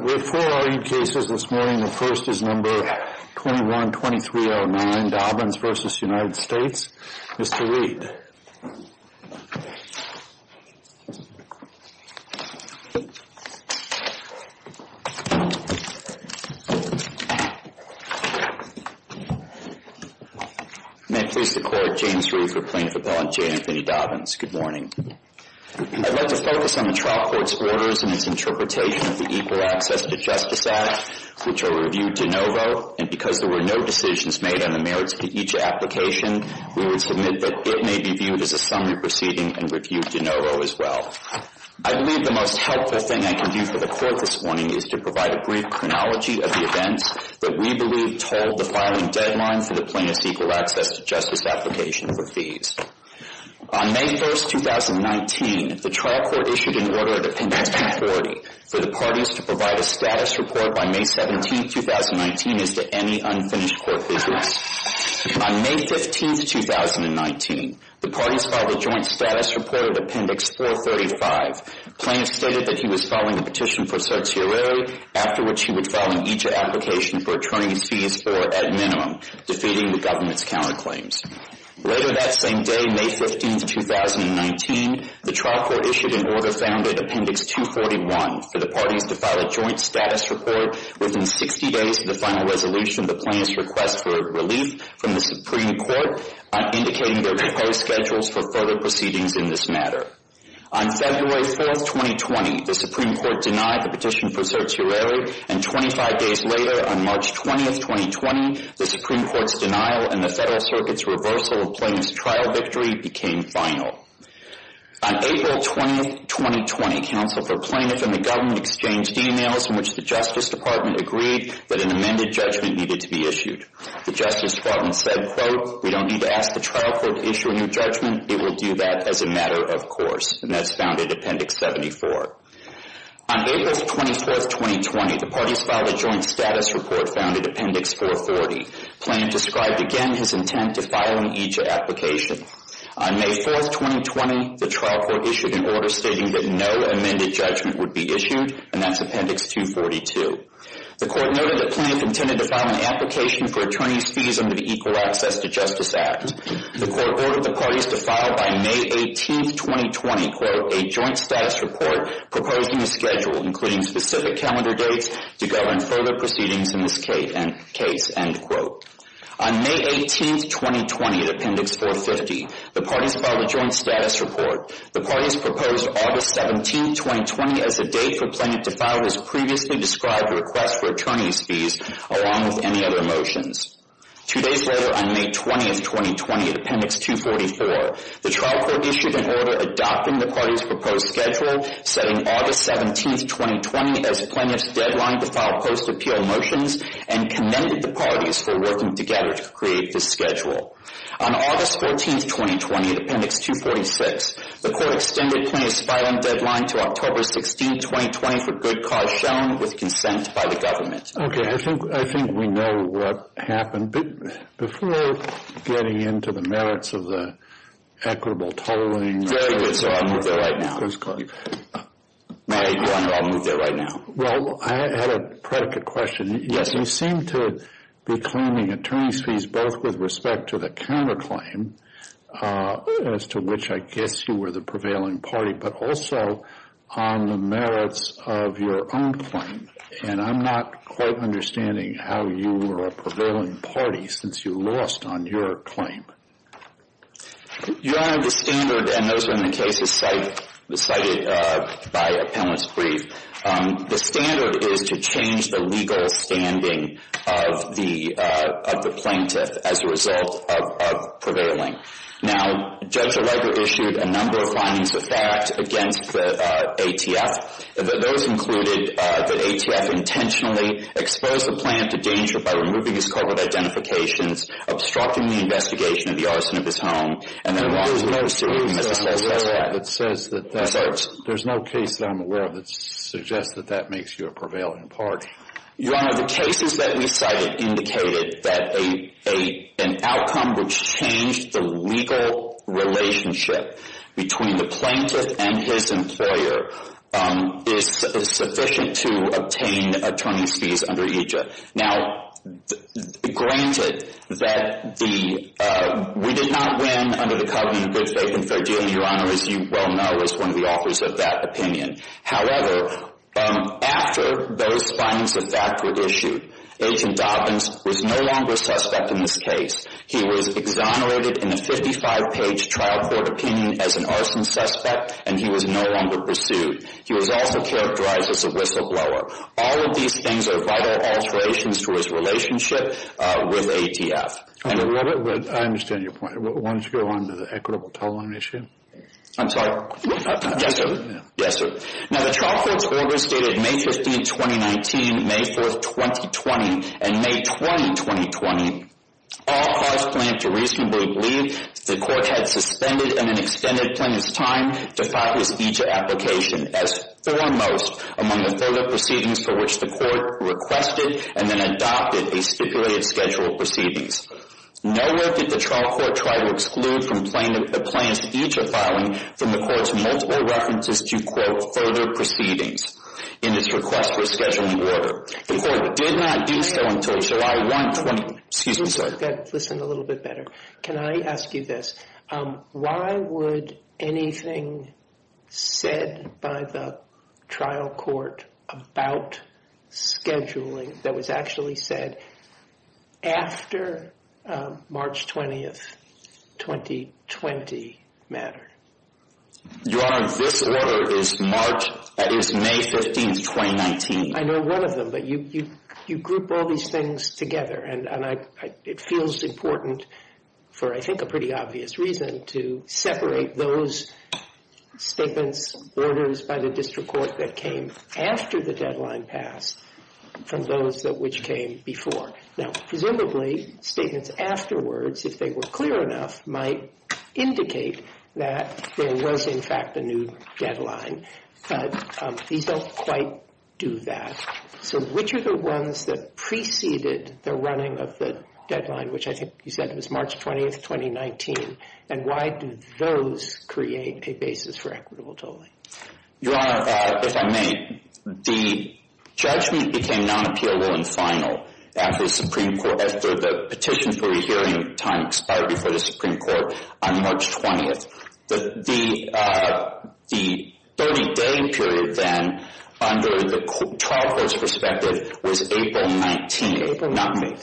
We have four R.E. cases this morning. The first is No. 21-2309, Dobyns v. United States. Mr. Reed. May I please declare James Reed for plaintiff appellant J. Anthony Dobyns. Good morning. I'd like to focus on the trial court's orders and its interpretation of the Equal Access to Justice Act, which are reviewed de novo. And because there were no decisions made on the merits of each application, we would submit that it may be viewed as a summary proceeding and reviewed de novo as well. I believe the most helpful thing I can do for the court this morning is to provide a brief chronology of the events that we believe told the filing deadline for the Plaintiff's Equal Access to Justice application for fees. On May 1st, 2019, the trial court issued an order of Appendix 240 for the parties to provide a status report by May 17th, 2019 as to any unfinished court business. On May 15th, 2019, the parties filed a joint status report of Appendix 435. Plaintiff stated that he was filing a petition for certiorari, after which he would file an each application for returning fees or, at minimum, defeating the government's counterclaims. Later that same day, May 15th, 2019, the trial court issued an order founded Appendix 241 for the parties to file a joint status report within 60 days of the final resolution of the plaintiff's request for relief from the Supreme Court, indicating their proposed schedules for further proceedings in this matter. On February 4th, 2020, the Supreme Court denied the petition for certiorari, and 25 days later, on March 20th, 2020, the Supreme Court's denial and the Federal Circuit's reversal of Plaintiff's trial victory became final. On April 20th, 2020, Counsel for Plaintiff and the government exchanged emails in which the Justice Department agreed that an amended judgment needed to be issued. The Justice Department said, quote, we don't need to ask the trial court to issue a new judgment, it will do that as a matter of course, and that's found in Appendix 74. On April 24th, 2020, the parties filed a joint status report found in Appendix 440. Plaintiff described again his intent to file an each application. On May 4th, 2020, the trial court issued an order stating that no amended judgment would be issued, and that's Appendix 242. The court noted that Plaintiff intended to file an application for attorney's fees under the Equal Access to Justice Act. The court ordered the parties to file by May 18th, 2020, quote, a joint status report proposing a schedule including specific calendar dates to go in further proceedings in this case, end quote. On May 18th, 2020, at Appendix 450, the parties filed a joint status report. The parties proposed August 17th, 2020, as a date for Plaintiff to file his previously described request for attorney's fees along with any other motions. Two days later, on May 20th, 2020, at Appendix 244, the trial court issued an order adopting the parties' proposed schedule, setting August 17th, 2020, as Plaintiff's deadline to file post-appeal motions, and commended the parties for working together to create this schedule. On August 14th, 2020, at Appendix 246, the court extended Plaintiff's filing deadline to October 16th, 2020, for good cause shown with consent by the government. Okay, I think we know what happened. Before getting into the merits of the equitable tolling... Very good, sir. I'll move there right now. Please go ahead. I'll move there right now. Well, I had a predicate question. Yes, sir. You seem to be claiming attorney's fees both with respect to the counterclaim, as to which I guess you were the prevailing party, but also on the merits of your own claim. And I'm not quite understanding how you were a prevailing party since you lost on your claim. You don't have the standard, and those are in the cases cited by Appellant's brief. The standard is to change the legal standing of the plaintiff as a result of prevailing. Now, Judge O'Reilly issued a number of findings of fact against the ATF. Those included that ATF intentionally exposed the plaintiff to danger by removing his covered identifications, obstructing the investigation of the arson of his home, and then wrongly charged him as a false suspect. There's no case that I'm aware of that suggests that that makes you a prevailing party. Your Honor, the cases that we cited indicated that an outcome which changed the legal relationship between the plaintiff and his employer is sufficient to obtain attorney's fees under EJIA. Now, granted that we did not win under the covenant of good faith and fair dealing, Your Honor, as you well know, as one of the authors of that opinion. However, after those findings of fact were issued, Agent Dobbins was no longer a suspect in this case. He was exonerated in a 55-page trial court opinion as an arson suspect, and he was no longer pursued. He was also characterized as a whistleblower. All of these things are vital alterations to his relationship with ATF. I understand your point. Why don't you go on to the equitable tolling issue? I'm sorry? Yes, sir. Yes, sir. Now, the trial court's orders dated May 15, 2019, May 4, 2020, and May 20, 2020, all caused plaintiff to reasonably believe the court had suspended and then extended plaintiff's time to file his EJIA application, as foremost among the further proceedings for which the court requested and then adopted a stipulated schedule of proceedings. Nowhere did the trial court try to exclude the plaintiff's future filing from the court's multiple references to, quote, further proceedings in its request for a scheduling order. The court did not do so until July 1, 2020. Excuse me, sir. You've got to listen a little bit better. Can I ask you this? Why would anything said by the trial court about scheduling that was actually said after March 20, 2020, matter? Your Honor, this order is March, that is, May 15, 2019. I know one of them, but you group all these things together. And it feels important for, I think, a pretty obvious reason to separate those statements, orders by the district court that came after the deadline passed from those which came before. Now, presumably, statements afterwards, if they were clear enough, might indicate that there was, in fact, a new deadline. But these don't quite do that. So which are the ones that preceded the running of the deadline, which I think you said was March 20, 2019? And why do those create a basis for equitable tolling? Your Honor, if I may, the judgment became non-appealable in final after the Supreme Court, after the petition for a hearing time expired before the Supreme Court on March 20. The 30-day period then, under the trial court's perspective, was April 19, not May.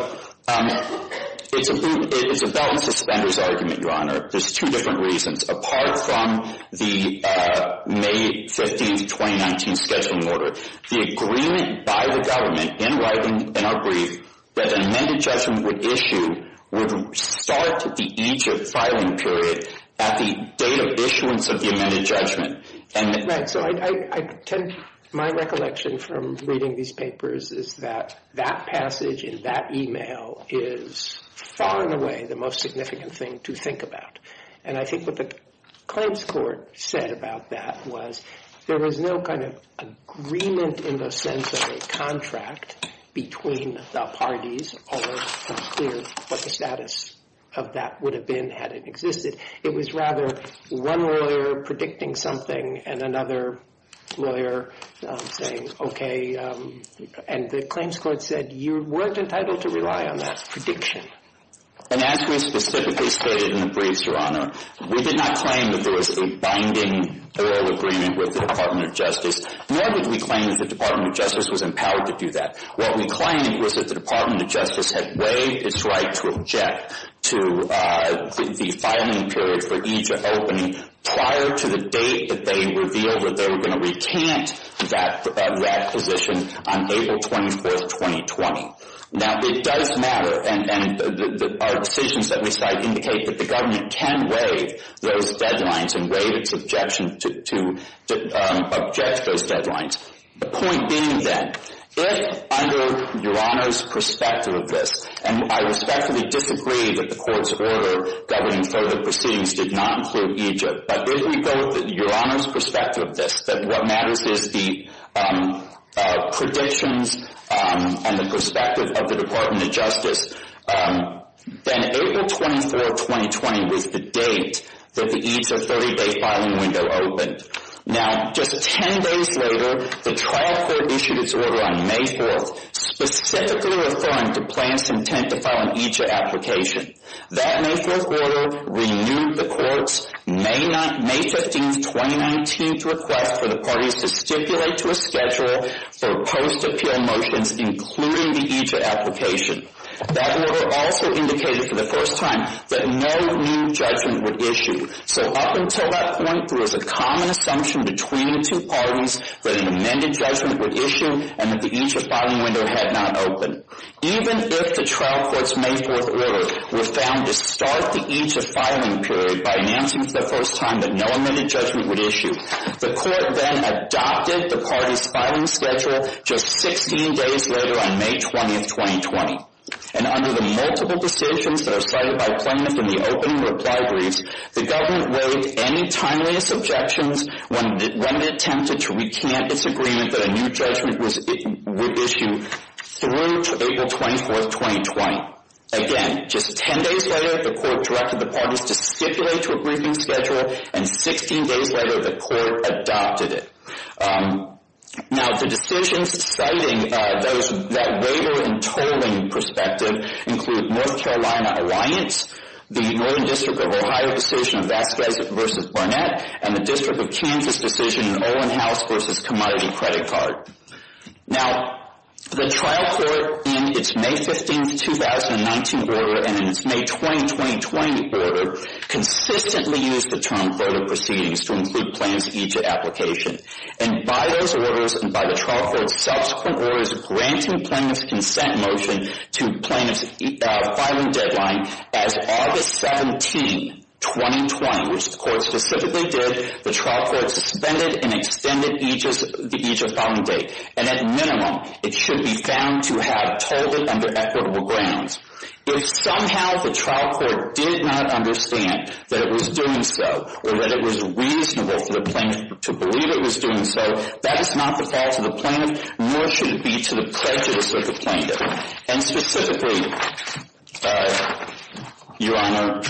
So it's a balance of spenders argument, Your Honor. There's two different reasons apart from the May 15, 2019 scheduling order. The agreement by the government, in writing in our brief, that an amended judgment would issue would start at the age of filing period at the date of issuance of the amended judgment. Right. So my recollection from reading these papers is that that passage in that email is far and away the most significant thing to think about. And I think what the claims court said about that was there was no kind of agreement in the sense of a contract between the parties, although it's unclear what the status of that would have been had it existed. It was rather one lawyer predicting something and another lawyer saying, OK, and the claims court said you weren't entitled to rely on that prediction. And as we specifically stated in the briefs, Your Honor, we did not claim that there was a binding oral agreement with the Department of Justice, nor did we claim that the Department of Justice was empowered to do that. What we claimed was that the Department of Justice had waived its right to object to the filing period for each opening prior to the date that they revealed that they were going to recant that requisition on April 24, 2020. Now, it does matter, and our decisions that we cite indicate that the government can waive those deadlines and waive its objection to object to those deadlines. The point being, then, if under Your Honor's perspective of this, and I respectfully disagree that the court's order governing further proceedings did not include Egypt, but if we go with Your Honor's perspective of this, that what matters is the predictions and the perspective of the Department of Justice, then April 24, 2020 was the date that the Egypt 30-day filing window opened. Now, just 10 days later, the trial court issued its order on May 4th specifically referring to plans to intent to file an Egypt application. That May 4th order renewed the court's May 15, 2019 request for the parties to stipulate to a schedule for post-appeal motions including the Egypt application. That order also indicated for the first time that no new judgment would issue. So up until that point, there was a common assumption between the two parties that an amended judgment would issue and that the Egypt filing window had not opened. Even if the trial court's May 4th order was found to start the Egypt filing period by announcing for the first time that no amended judgment would issue, the court then adopted the parties' filing schedule just 16 days later on May 20, 2020. And under the multiple decisions that are cited by plaintiff in the opening reply briefs, the government waived any timeliest objections when it attempted to recant its agreement that a new judgment would issue through to April 24, 2020. Again, just 10 days later, the court directed the parties to stipulate to a briefing schedule, and 16 days later, the court adopted it. Now, the decisions citing that waiver and tolling perspective include North Carolina Alliance, the Northern District of Ohio decision Vasquez v. Barnett, and the District of Kansas decision Olin House v. Commodity Credit Card. Now, the trial court in its May 15, 2019 order and in its May 20, 2020 order consistently used the term further proceedings to include plaintiff's Egypt application. And by those orders and by the trial court's subsequent orders granting plaintiff's consent motion to plaintiff's filing deadline, as August 17, 2020, which the court specifically did, the trial court suspended and extended the Egypt filing date. And at minimum, it should be found to have tolled it under equitable grounds. If somehow the trial court did not understand that it was doing so or that it was reasonable for the plaintiff to believe it was doing so, that is not the fault of the plaintiff, nor should it be to the prejudice of the plaintiff. And specifically, Your Honor,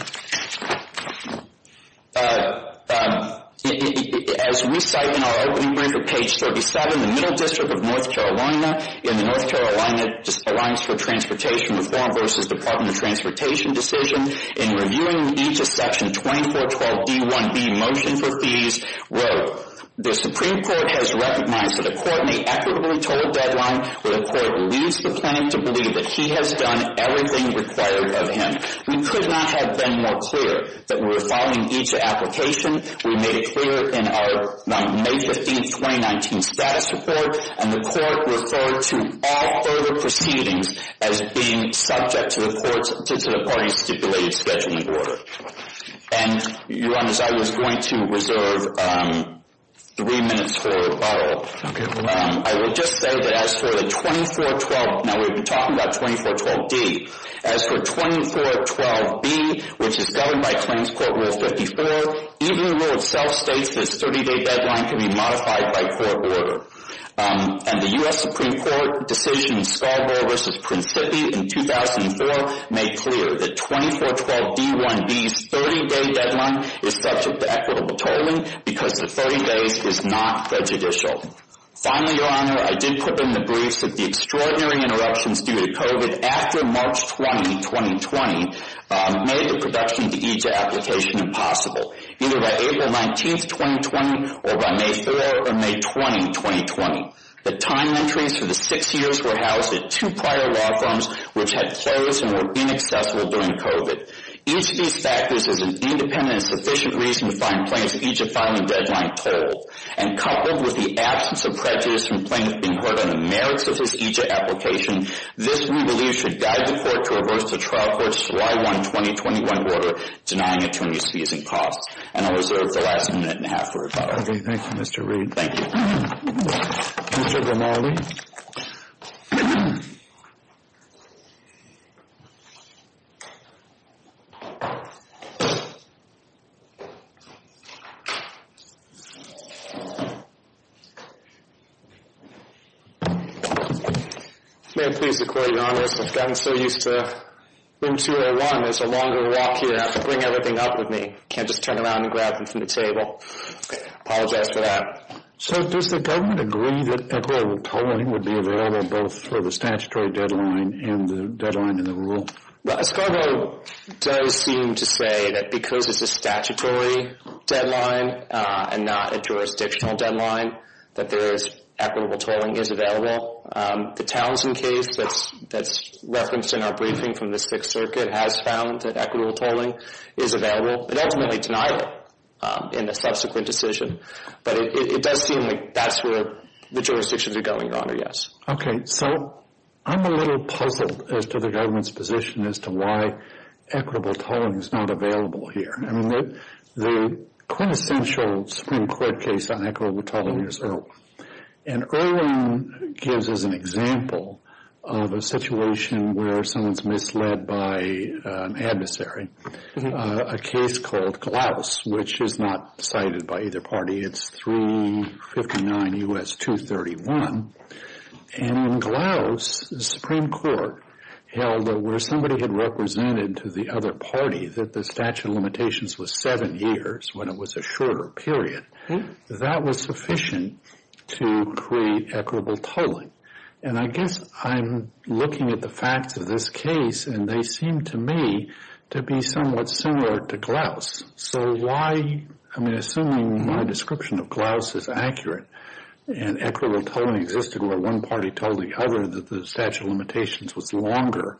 as we cite in our opening brief at page 37, the Middle District of North Carolina in the North Carolina Alliance for Transportation Reform v. Department of Transportation decision, in reviewing each of Section 2412d-1b motion for fees, wrote, the Supreme Court has recognized that a court may equitably toll a deadline when a court leaves the plaintiff to believe that he has done everything required of him. We could not have been more clear that we were filing Egypt application. We made it clear in our May 15, 2019 status report, and the court referred to all further proceedings as being subject to the court's, to the party's stipulated scheduling order. And Your Honor, as I was going to reserve three minutes for follow-up, I will just say that as for the 2412, now we've been talking about 2412d, as for 2412b, which is governed by Claims Court Rule 54, even the rule itself states this 30-day deadline can be modified by court order. And the U.S. Supreme Court decision in Scarborough v. Prince Phippie in 2004 made clear that 2412d-1b's 30-day deadline is subject to equitable tolling because the 30 days is not prejudicial. Finally, Your Honor, I did put in the briefs that the extraordinary interruptions due to COVID after March 20, 2020 made the production of the Egypt application impossible, either by April 19, 2020 or by May 4 or May 20, 2020. The time entries for the six years were housed at two prior law firms which had closed and were inaccessible during COVID. Each of these factors is an independent and sufficient reason to find plaintiff's Egypt filing deadline cold. And coupled with the absence of prejudice from plaintiffs being heard on the merits of this Egypt application, this we believe should guide the court to reverse the trial court's July 1, 2021 order denying attorneys fees and costs. And I'll reserve the last minute and a half for follow-up. Thank you, Mr. Reed. Thank you. Mr. DeMarli. May it please the Court, Your Honor, I've gotten so used to Room 201, there's a longer walk here. I have to bring everything up with me. Can't just turn around and grab them from the table. Apologize for that. So does the government agree that equitable tolling would be available both for the statutory deadline and the deadline in the rule? Well, Escargot does seem to say that because it's a statutory deadline and not a jurisdictional deadline, that equitable tolling is available. The Townsend case that's referenced in our briefing from the Sixth Circuit has found that equitable tolling is available. It ultimately denied it in the subsequent decision, but it does seem like that's where the jurisdictions are going, Your Honor, yes. Okay. So I'm a little puzzled as to the government's position as to why equitable tolling is not available here. I mean, the quintessential Supreme Court case on equitable tolling is Irwin. And Irwin gives us an example of a situation where someone is misled by an adversary. A case called Glouse, which is not cited by either party. It's 359 U.S. 231. And in Glouse, the Supreme Court held that where somebody had represented to the other party that the statute of limitations was seven years when it was a shorter period, that was sufficient to create equitable tolling. And I guess I'm looking at the facts of this case, and they seem to me to be somewhat similar to Glouse. So why, I mean, assuming my description of Glouse is accurate and equitable tolling existed where one party told the other that the statute of limitations was longer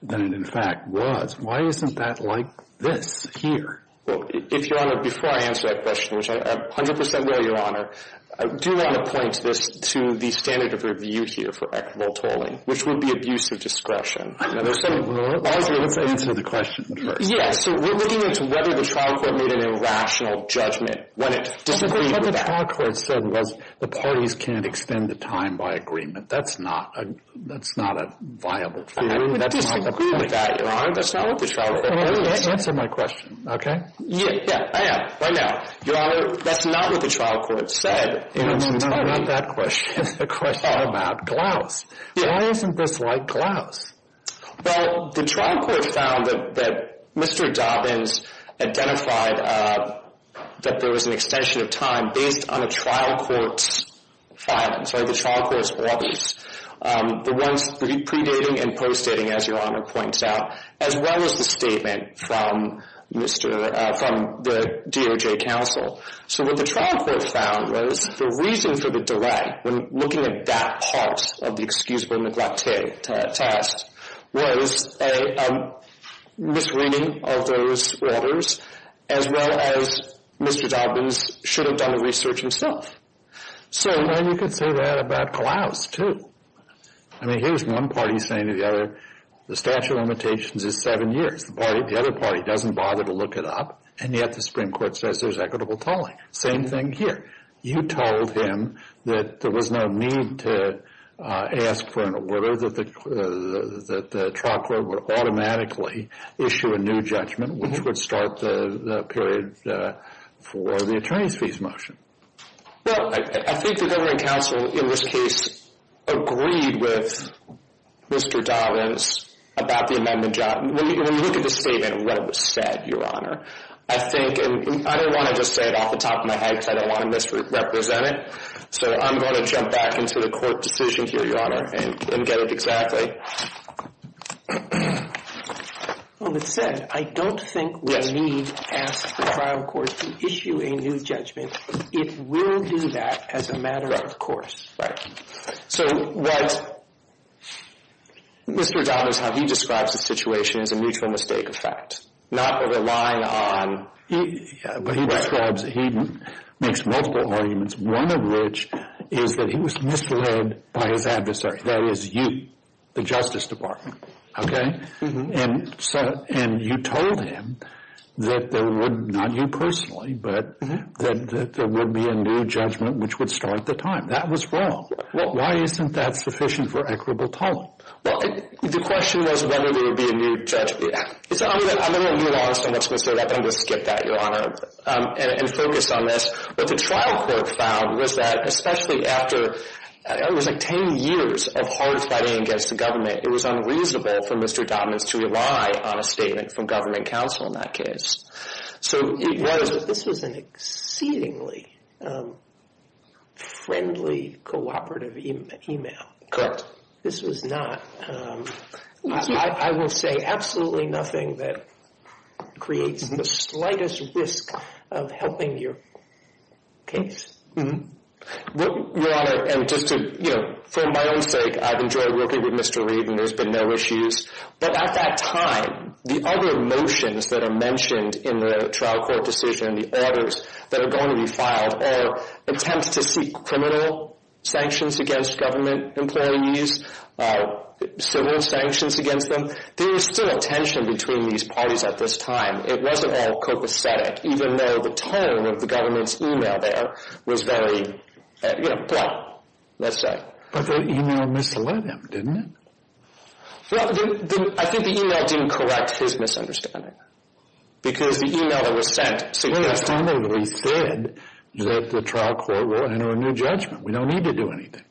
than it in fact was, why isn't that like this here? Well, if Your Honor, before I answer that question, which I 100% will, Your Honor, I do want to point this to the standard of review here for equitable tolling, which would be abuse of discretion. Largely, let's answer the question first. Yes, so we're looking into whether the trial court made an irrational judgment when it disagreed with that. What the trial court said was the parties can't extend the time by agreement. That's not a viable theory. I would disagree with that, Your Honor. That's not what the trial court said. Answer my question, okay? Yeah, I am, right now. Your Honor, that's not what the trial court said. No, not that question. It's the question about Glouse. Why isn't this like Glouse? Well, the trial court found that Mr. Dobbins identified that there was an extension of time based on the trial court's findings, or the trial court's rubbish, the ones predating and postdating, as Your Honor points out, as well as the statement from the DOJ counsel. So what the trial court found was the reason for the delay, when looking at that part of the excusable neglect test, was a misreading of those orders, as well as Mr. Dobbins should have done the research himself. So then you could say that about Glouse, too. I mean, here's one party saying to the other, the statute of limitations is seven years. The other party doesn't bother to look it up, and yet the Supreme Court says there's equitable tolling. Same thing here. You told him that there was no need to ask for an order, that the trial court would automatically issue a new judgment, which would start the period for the attorney's fees motion. Well, I think the government counsel in this case agreed with Mr. Dobbins about the amendment job. When you look at the statement and what it said, Your Honor, I think, and I don't want to just say it off the top of my head because I don't want to misrepresent it. So I'm going to jump back into the court decision here, Your Honor, and get it exactly. Well, it said, I don't think we need to ask the trial court to issue a new judgment. It will do that as a matter of course. Right. So what Mr. Dobbins, how he describes the situation is a mutual mistake effect, not relying on But he describes, he makes multiple arguments, one of which is that he was misled by his adversary, that is you, the Justice Department, okay? And you told him that there would, not you personally, but that there would be a new judgment which would start the time. That was wrong. Why isn't that sufficient for equitable tolling? Well, the question was whether there would be a new judgment. I'm going to move on so much, Mr. O'Rourke, but I'm going to skip that, Your Honor, and focus on this. What the trial court found was that especially after, it was like 10 years of hard fighting against the government, it was unreasonable for Mr. Dobbins to rely on a statement from government counsel in that case. This was an exceedingly friendly cooperative email. Correct. This was not. I will say absolutely nothing that creates the slightest risk of helping your case. Your Honor, and just to, you know, for my own sake, I've enjoyed working with Mr. Reed and there's been no issues. But at that time, the other motions that are mentioned in the trial court decision, the orders that are going to be filed, or attempts to seek criminal sanctions against government employees, civil sanctions against them, there was still a tension between these parties at this time. It wasn't all copacetic, even though the tone of the government's email there was very blunt, let's say. But the email misled him, didn't it? Well, I think the email didn't correct his misunderstanding because the email that was sent suggested that the trial court will enter a new judgment. We don't need to do anything.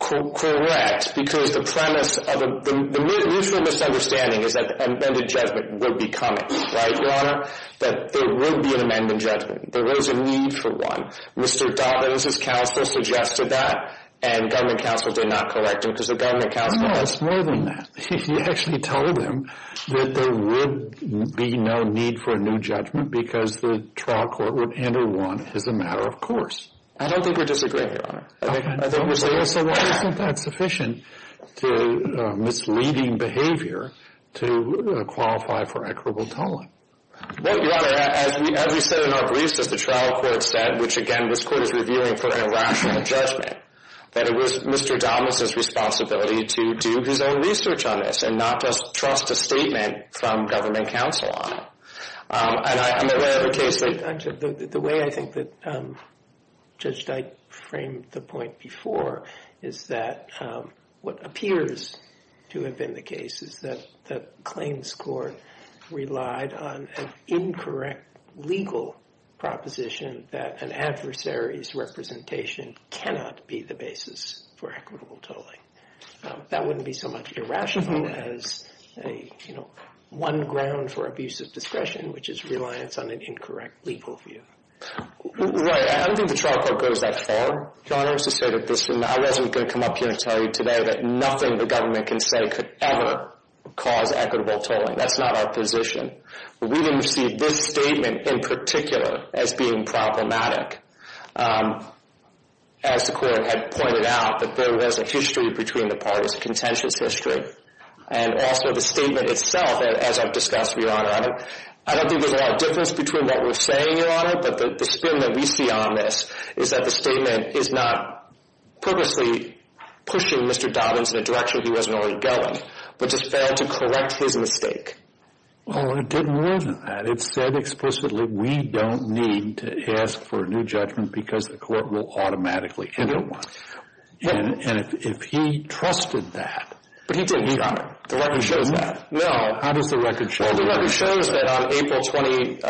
Correct. Because the premise of the mutual misunderstanding is that an amended judgment would be coming. Right, Your Honor? That there would be an amended judgment. There was a need for one. Mr. Dobbins' counsel suggested that and government counsel did not correct him because the government counsel. No, it's more than that. He actually told them that there would be no need for a new judgment because the trial court would enter one as a matter of course. I don't think we're disagreeing, Your Honor. So why isn't that sufficient to misleading behavior to qualify for equitable tolling? Well, Your Honor, as we said in our briefs, as the trial court said, which again this court is reviewing for a rational judgment, that it was Mr. Dobbins' responsibility to do his own research on this and not just trust a statement from government counsel on it. The way I think that Judge Dyke framed the point before is that what appears to have been the case is that the claims court relied on an incorrect legal proposition that an adversary's representation cannot be the basis for equitable tolling. That wouldn't be so much irrational as one ground for abusive discretion, which is reliance on an incorrect legal view. Right, I don't think the trial court goes that far, Your Honor. I was going to come up here and tell you today that nothing the government can say could ever cause equitable tolling. That's not our position. We didn't see this statement in particular as being problematic. As the court had pointed out, that there was a history between the parties, a contentious history. And also the statement itself, as I've discussed, Your Honor, I don't think there's a lot of difference between what we're saying, Your Honor, but the spin that we see on this is that the statement is not purposely pushing Mr. Dobbins in a direction he wasn't already going, but just failed to correct his mistake. Well, it did more than that. It said explicitly we don't need to ask for a new judgment because the court will automatically enter one. And if he trusted that. But he didn't, Your Honor. The record shows that. No. How does the record show that? Well, the record shows that on April 22nd.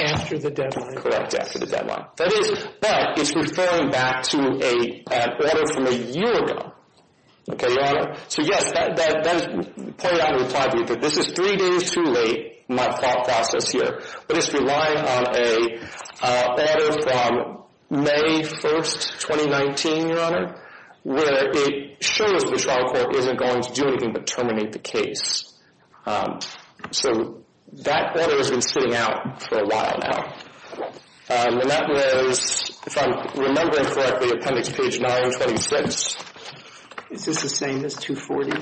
After the deadline. Correct, after the deadline. Okay, Your Honor. So, yes, that is pointed out in the reply brief. This is three days too late, my thought process here. But it's relying on a letter from May 1st, 2019, Your Honor, where it shows that the trial court isn't going to do anything but terminate the case. So that letter has been sitting out for a while now. And that was, if I'm remembering correctly, appendix page 926. Is this the same as 240?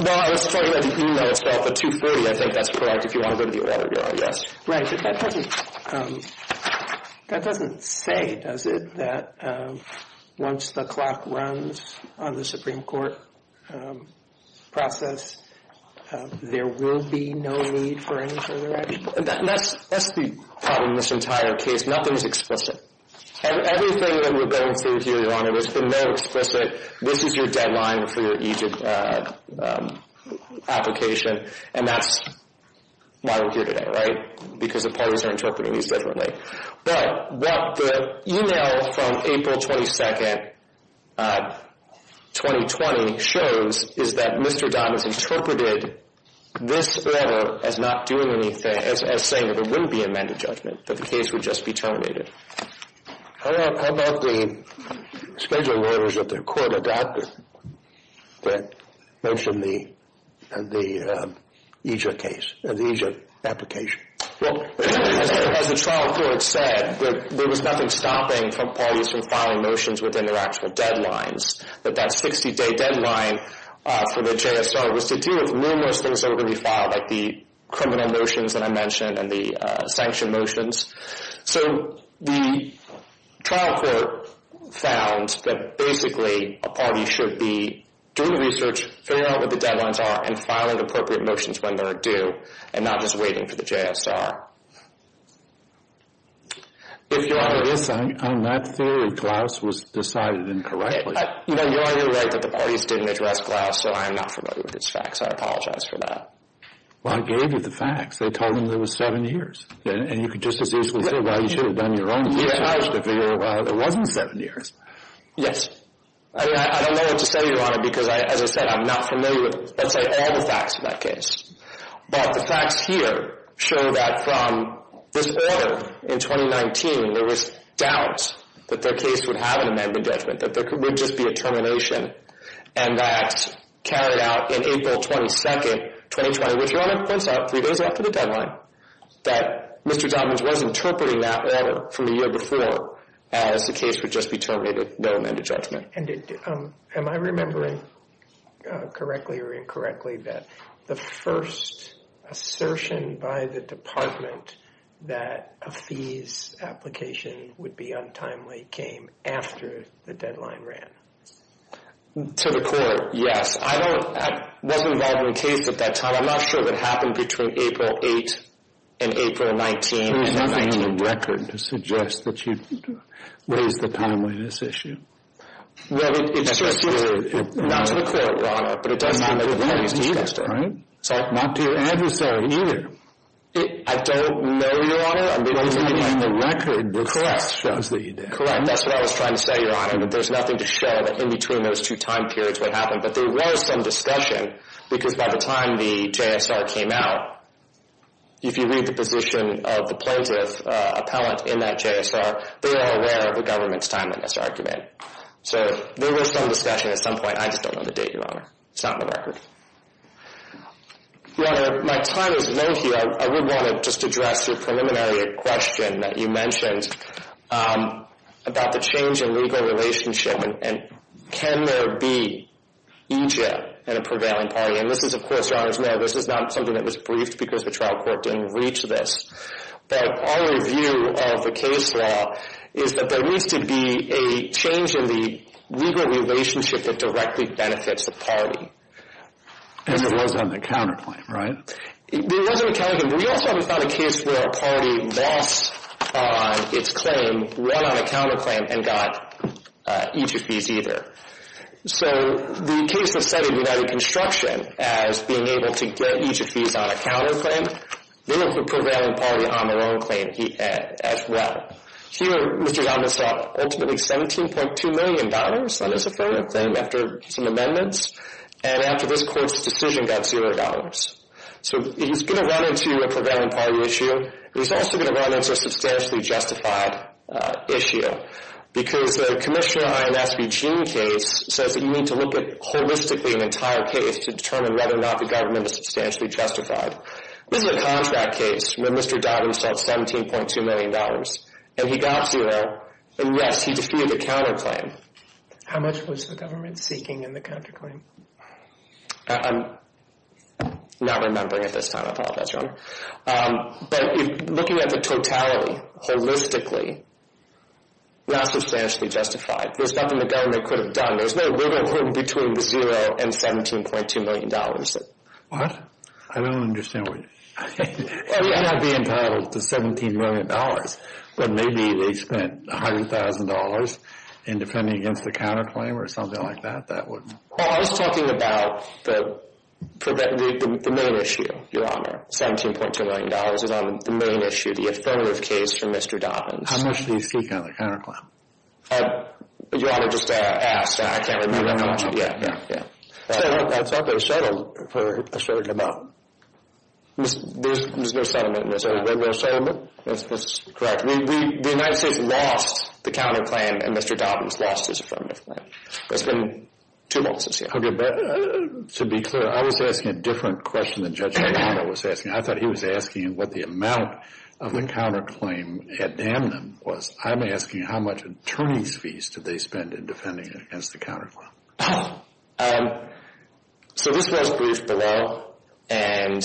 Well, I was told in the e-mail it spelled for 230. I think that's correct if you want to go to the order, Your Honor. Yes. Right, but that doesn't say, does it, that once the clock runs on the Supreme Court process, there will be no need for any further action? That's the problem in this entire case. Nothing is explicit. And everything that we're going through here, Your Honor, has been very explicit. This is your deadline for your e-application, and that's why we're here today, right? Because the parties are interpreting these differently. But what the e-mail from April 22nd, 2020, shows is that Mr. Don has interpreted this letter as not doing anything, as saying that there wouldn't be amended judgment, that the case would just be terminated. How about the schedule of orders that the court adopted that mentioned the EJIA case, the EJIA application? Well, as the trial court said, there was nothing stopping parties from filing notions within their actual deadlines, that that 60-day deadline for the JSO was to deal with numerous things that were going to be filed, like the criminal notions that I mentioned and the sanction motions. So the trial court found that basically a party should be doing research, figuring out what the deadlines are, and filing appropriate motions when they're due, and not just waiting for the JSO. If Your Honor— Yes, I'm not sure if Klaus was decided incorrectly. You're right that the parties didn't address Klaus, so I'm not familiar with his facts. I apologize for that. Well, I gave you the facts. They told him there was seven years. And you could just as easily say, well, you should have done your own research to figure out why there wasn't seven years. Yes. I mean, I don't know what to say, Your Honor, because, as I said, I'm not familiar with, let's say, all the facts of that case. But the facts here show that from this order in 2019, there was doubt that their case would have an amendment judgment, that there would just be a termination, and that carried out in April 22, 2020, which, Your Honor, points out three days after the deadline, that Mr. Dobbins was interpreting that order from the year before as the case would just be terminated, no amended judgment. Am I remembering correctly or incorrectly that the first assertion by the department that a fees application would be untimely came after the deadline ran? To the court, yes. That wasn't the case at that time. I'm not sure what happened between April 8 and April 19. There's nothing in the record to suggest that you raised the timeliness issue. Well, it's not to the court, Your Honor, but it does not make sense to suggest that. Not to your adversary either. I don't know, Your Honor. I mean, the record shows that you did. Correct. That's what I was trying to say, Your Honor, that there's nothing to show that in between those two time periods what happened. But there was some discussion, because by the time the JSR came out, if you read the position of the plaintiff appellant in that JSR, they were aware of the government's timeliness argument. So there was some discussion at some point. I just don't know the date, Your Honor. It's not in the record. Your Honor, my time is low here. I would want to just address your preliminary question that you mentioned about the change in legal relationship and can there be EJ in a prevailing party. And this is, of course, Your Honor's Mayor, this is not something that was briefed because the trial court didn't reach this. But our review of the case law is that there needs to be a change in the legal relationship that directly benefits the party. And it was on the counterclaim, right? It was on the counterclaim. We also haven't found a case where a party lost on its claim, won on a counterclaim, and got EJ fees either. So the case that cited United Construction as being able to get EJ fees on a counterclaim, they have a prevailing party on their own claim as well. Here, Mr. Donovan sought ultimately $17.2 million on his affirmative claim after some amendments, and after this court's decision got $0. So he's going to run into a prevailing party issue. He's also going to run into a substantially justified issue because the Commissioner INS Eugene case says that you need to look at holistically an entire case to determine whether or not the government is substantially justified. This is a contract case where Mr. Donovan sought $17.2 million, and he got $0. And, yes, he defeated the counterclaim. How much was the government seeking in the counterclaim? I apologize, Your Honor. But looking at the totality, holistically, not substantially justified. There's nothing the government could have done. There's no wiggle room between the $0 and $17.2 million. What? I don't understand what you're saying. It may not be entitled to $17 million, but maybe they spent $100,000 in defending against the counterclaim or something like that. Well, I was talking about the main issue, Your Honor. $17.2 million is on the main issue, the affirmative case for Mr. Donovan. How much do you seek out of the counterclaim? Your Honor, just ask. I can't reveal that much. Yeah, yeah, yeah. I thought they were settled for a certain amount. There's no settlement in this case. There's no settlement? That's correct. The United States lost the counterclaim, and Mr. Donovan lost his affirmative claim. That's been two months this year. Okay. But to be clear, I was asking a different question than Judge Delano was asking. I thought he was asking what the amount of the counterclaim at Amnon was. I'm asking how much attorney's fees did they spend in defending against the counterclaim. So this was briefed below, and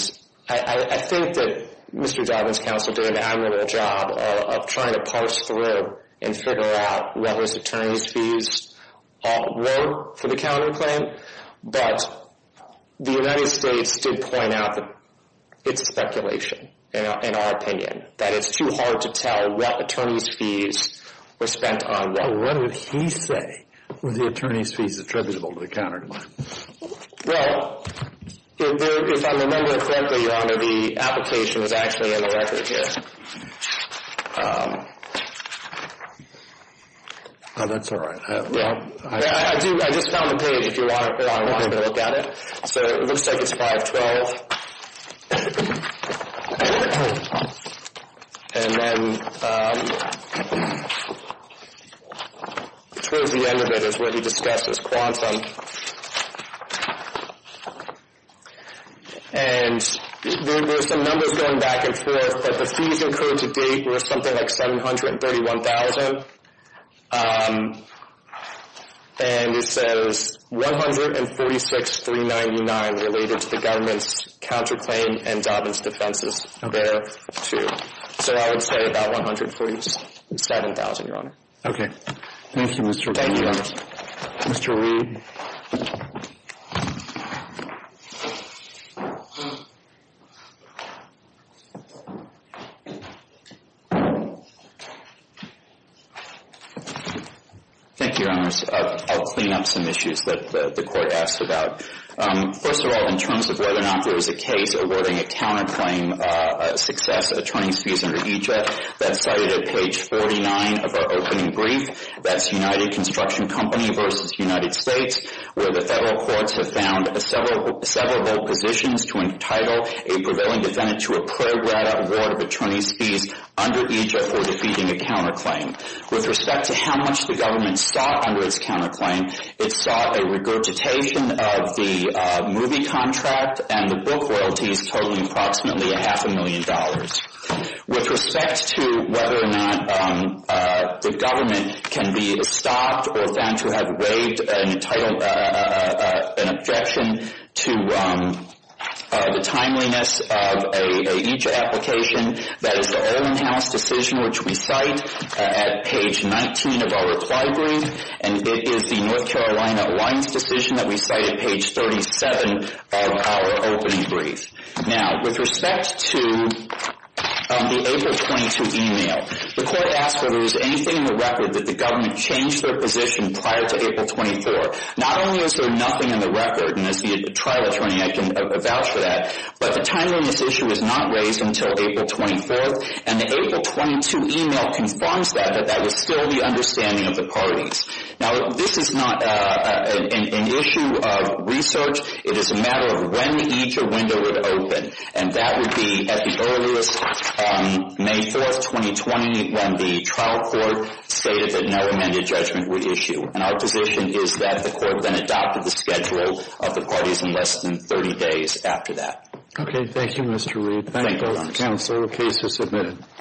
I think that Mr. Donovan's counsel did an aggregated job of trying to parse through and figure out what his attorney's fees were for the counterclaim. But the United States did point out that it's speculation, in our opinion, that it's too hard to tell what attorney's fees were spent on what. What did he say were the attorney's fees attributable to the counterclaim? Well, if I'm remembering correctly, Your Honor, the application is actually on the record here. Oh, that's all right. I just found the page if you want to look at it. So it looks like it's 512. And then towards the end of it is where he discusses quantum. And there's some numbers going back and forth, but the fees incurred to date were something like 731,000. And it says 146,399 related to the government's counterclaim and Donovan's defenses there, too. So I would say about 147,000, Your Honor. Okay. Thank you, Mr. Reed. Thank you, Your Honor. Mr. Reed. Thank you, Your Honors. I'll clean up some issues that the Court asked about. First of all, in terms of whether or not there is a case awarding a counterclaim success attorney's fees under EJF, that's cited at page 49 of our opening brief. That's United Construction Company v. United States, where the federal courts have found severable positions to entitle a prevailing defendant to a prorat award of attorney's fees under EJF for defeating a counterclaim. With respect to how much the government sought under its counterclaim, it sought a regurgitation of the movie contract and the book royalties totaling approximately a half a million dollars. With respect to whether or not the government can be stopped or found to have waived an objection to the timeliness of an EJF application, that is the Olin House decision, which we cite at page 19 of our reply brief, and it is the North Carolina lines decision that we cite at page 37 of our opening brief. Now, with respect to the April 22 email, the Court asked whether there was anything in the record that the government changed their position prior to April 24. Not only is there nothing in the record, and as the trial attorney, I can vouch for that, but the timeliness issue is not raised until April 24, and the April 22 email confirms that, that that was still the understanding of the parties. Now, this is not an issue of research. It is a matter of when the EJF window would open, and that would be at the earliest on May 4, 2020, when the trial court stated that no amended judgment would issue, and our position is that the Court then adopted the schedule of the parties in less than 30 days after that. Okay. Thank you, Mr. Reed. Thank you, counsel. The case is submitted.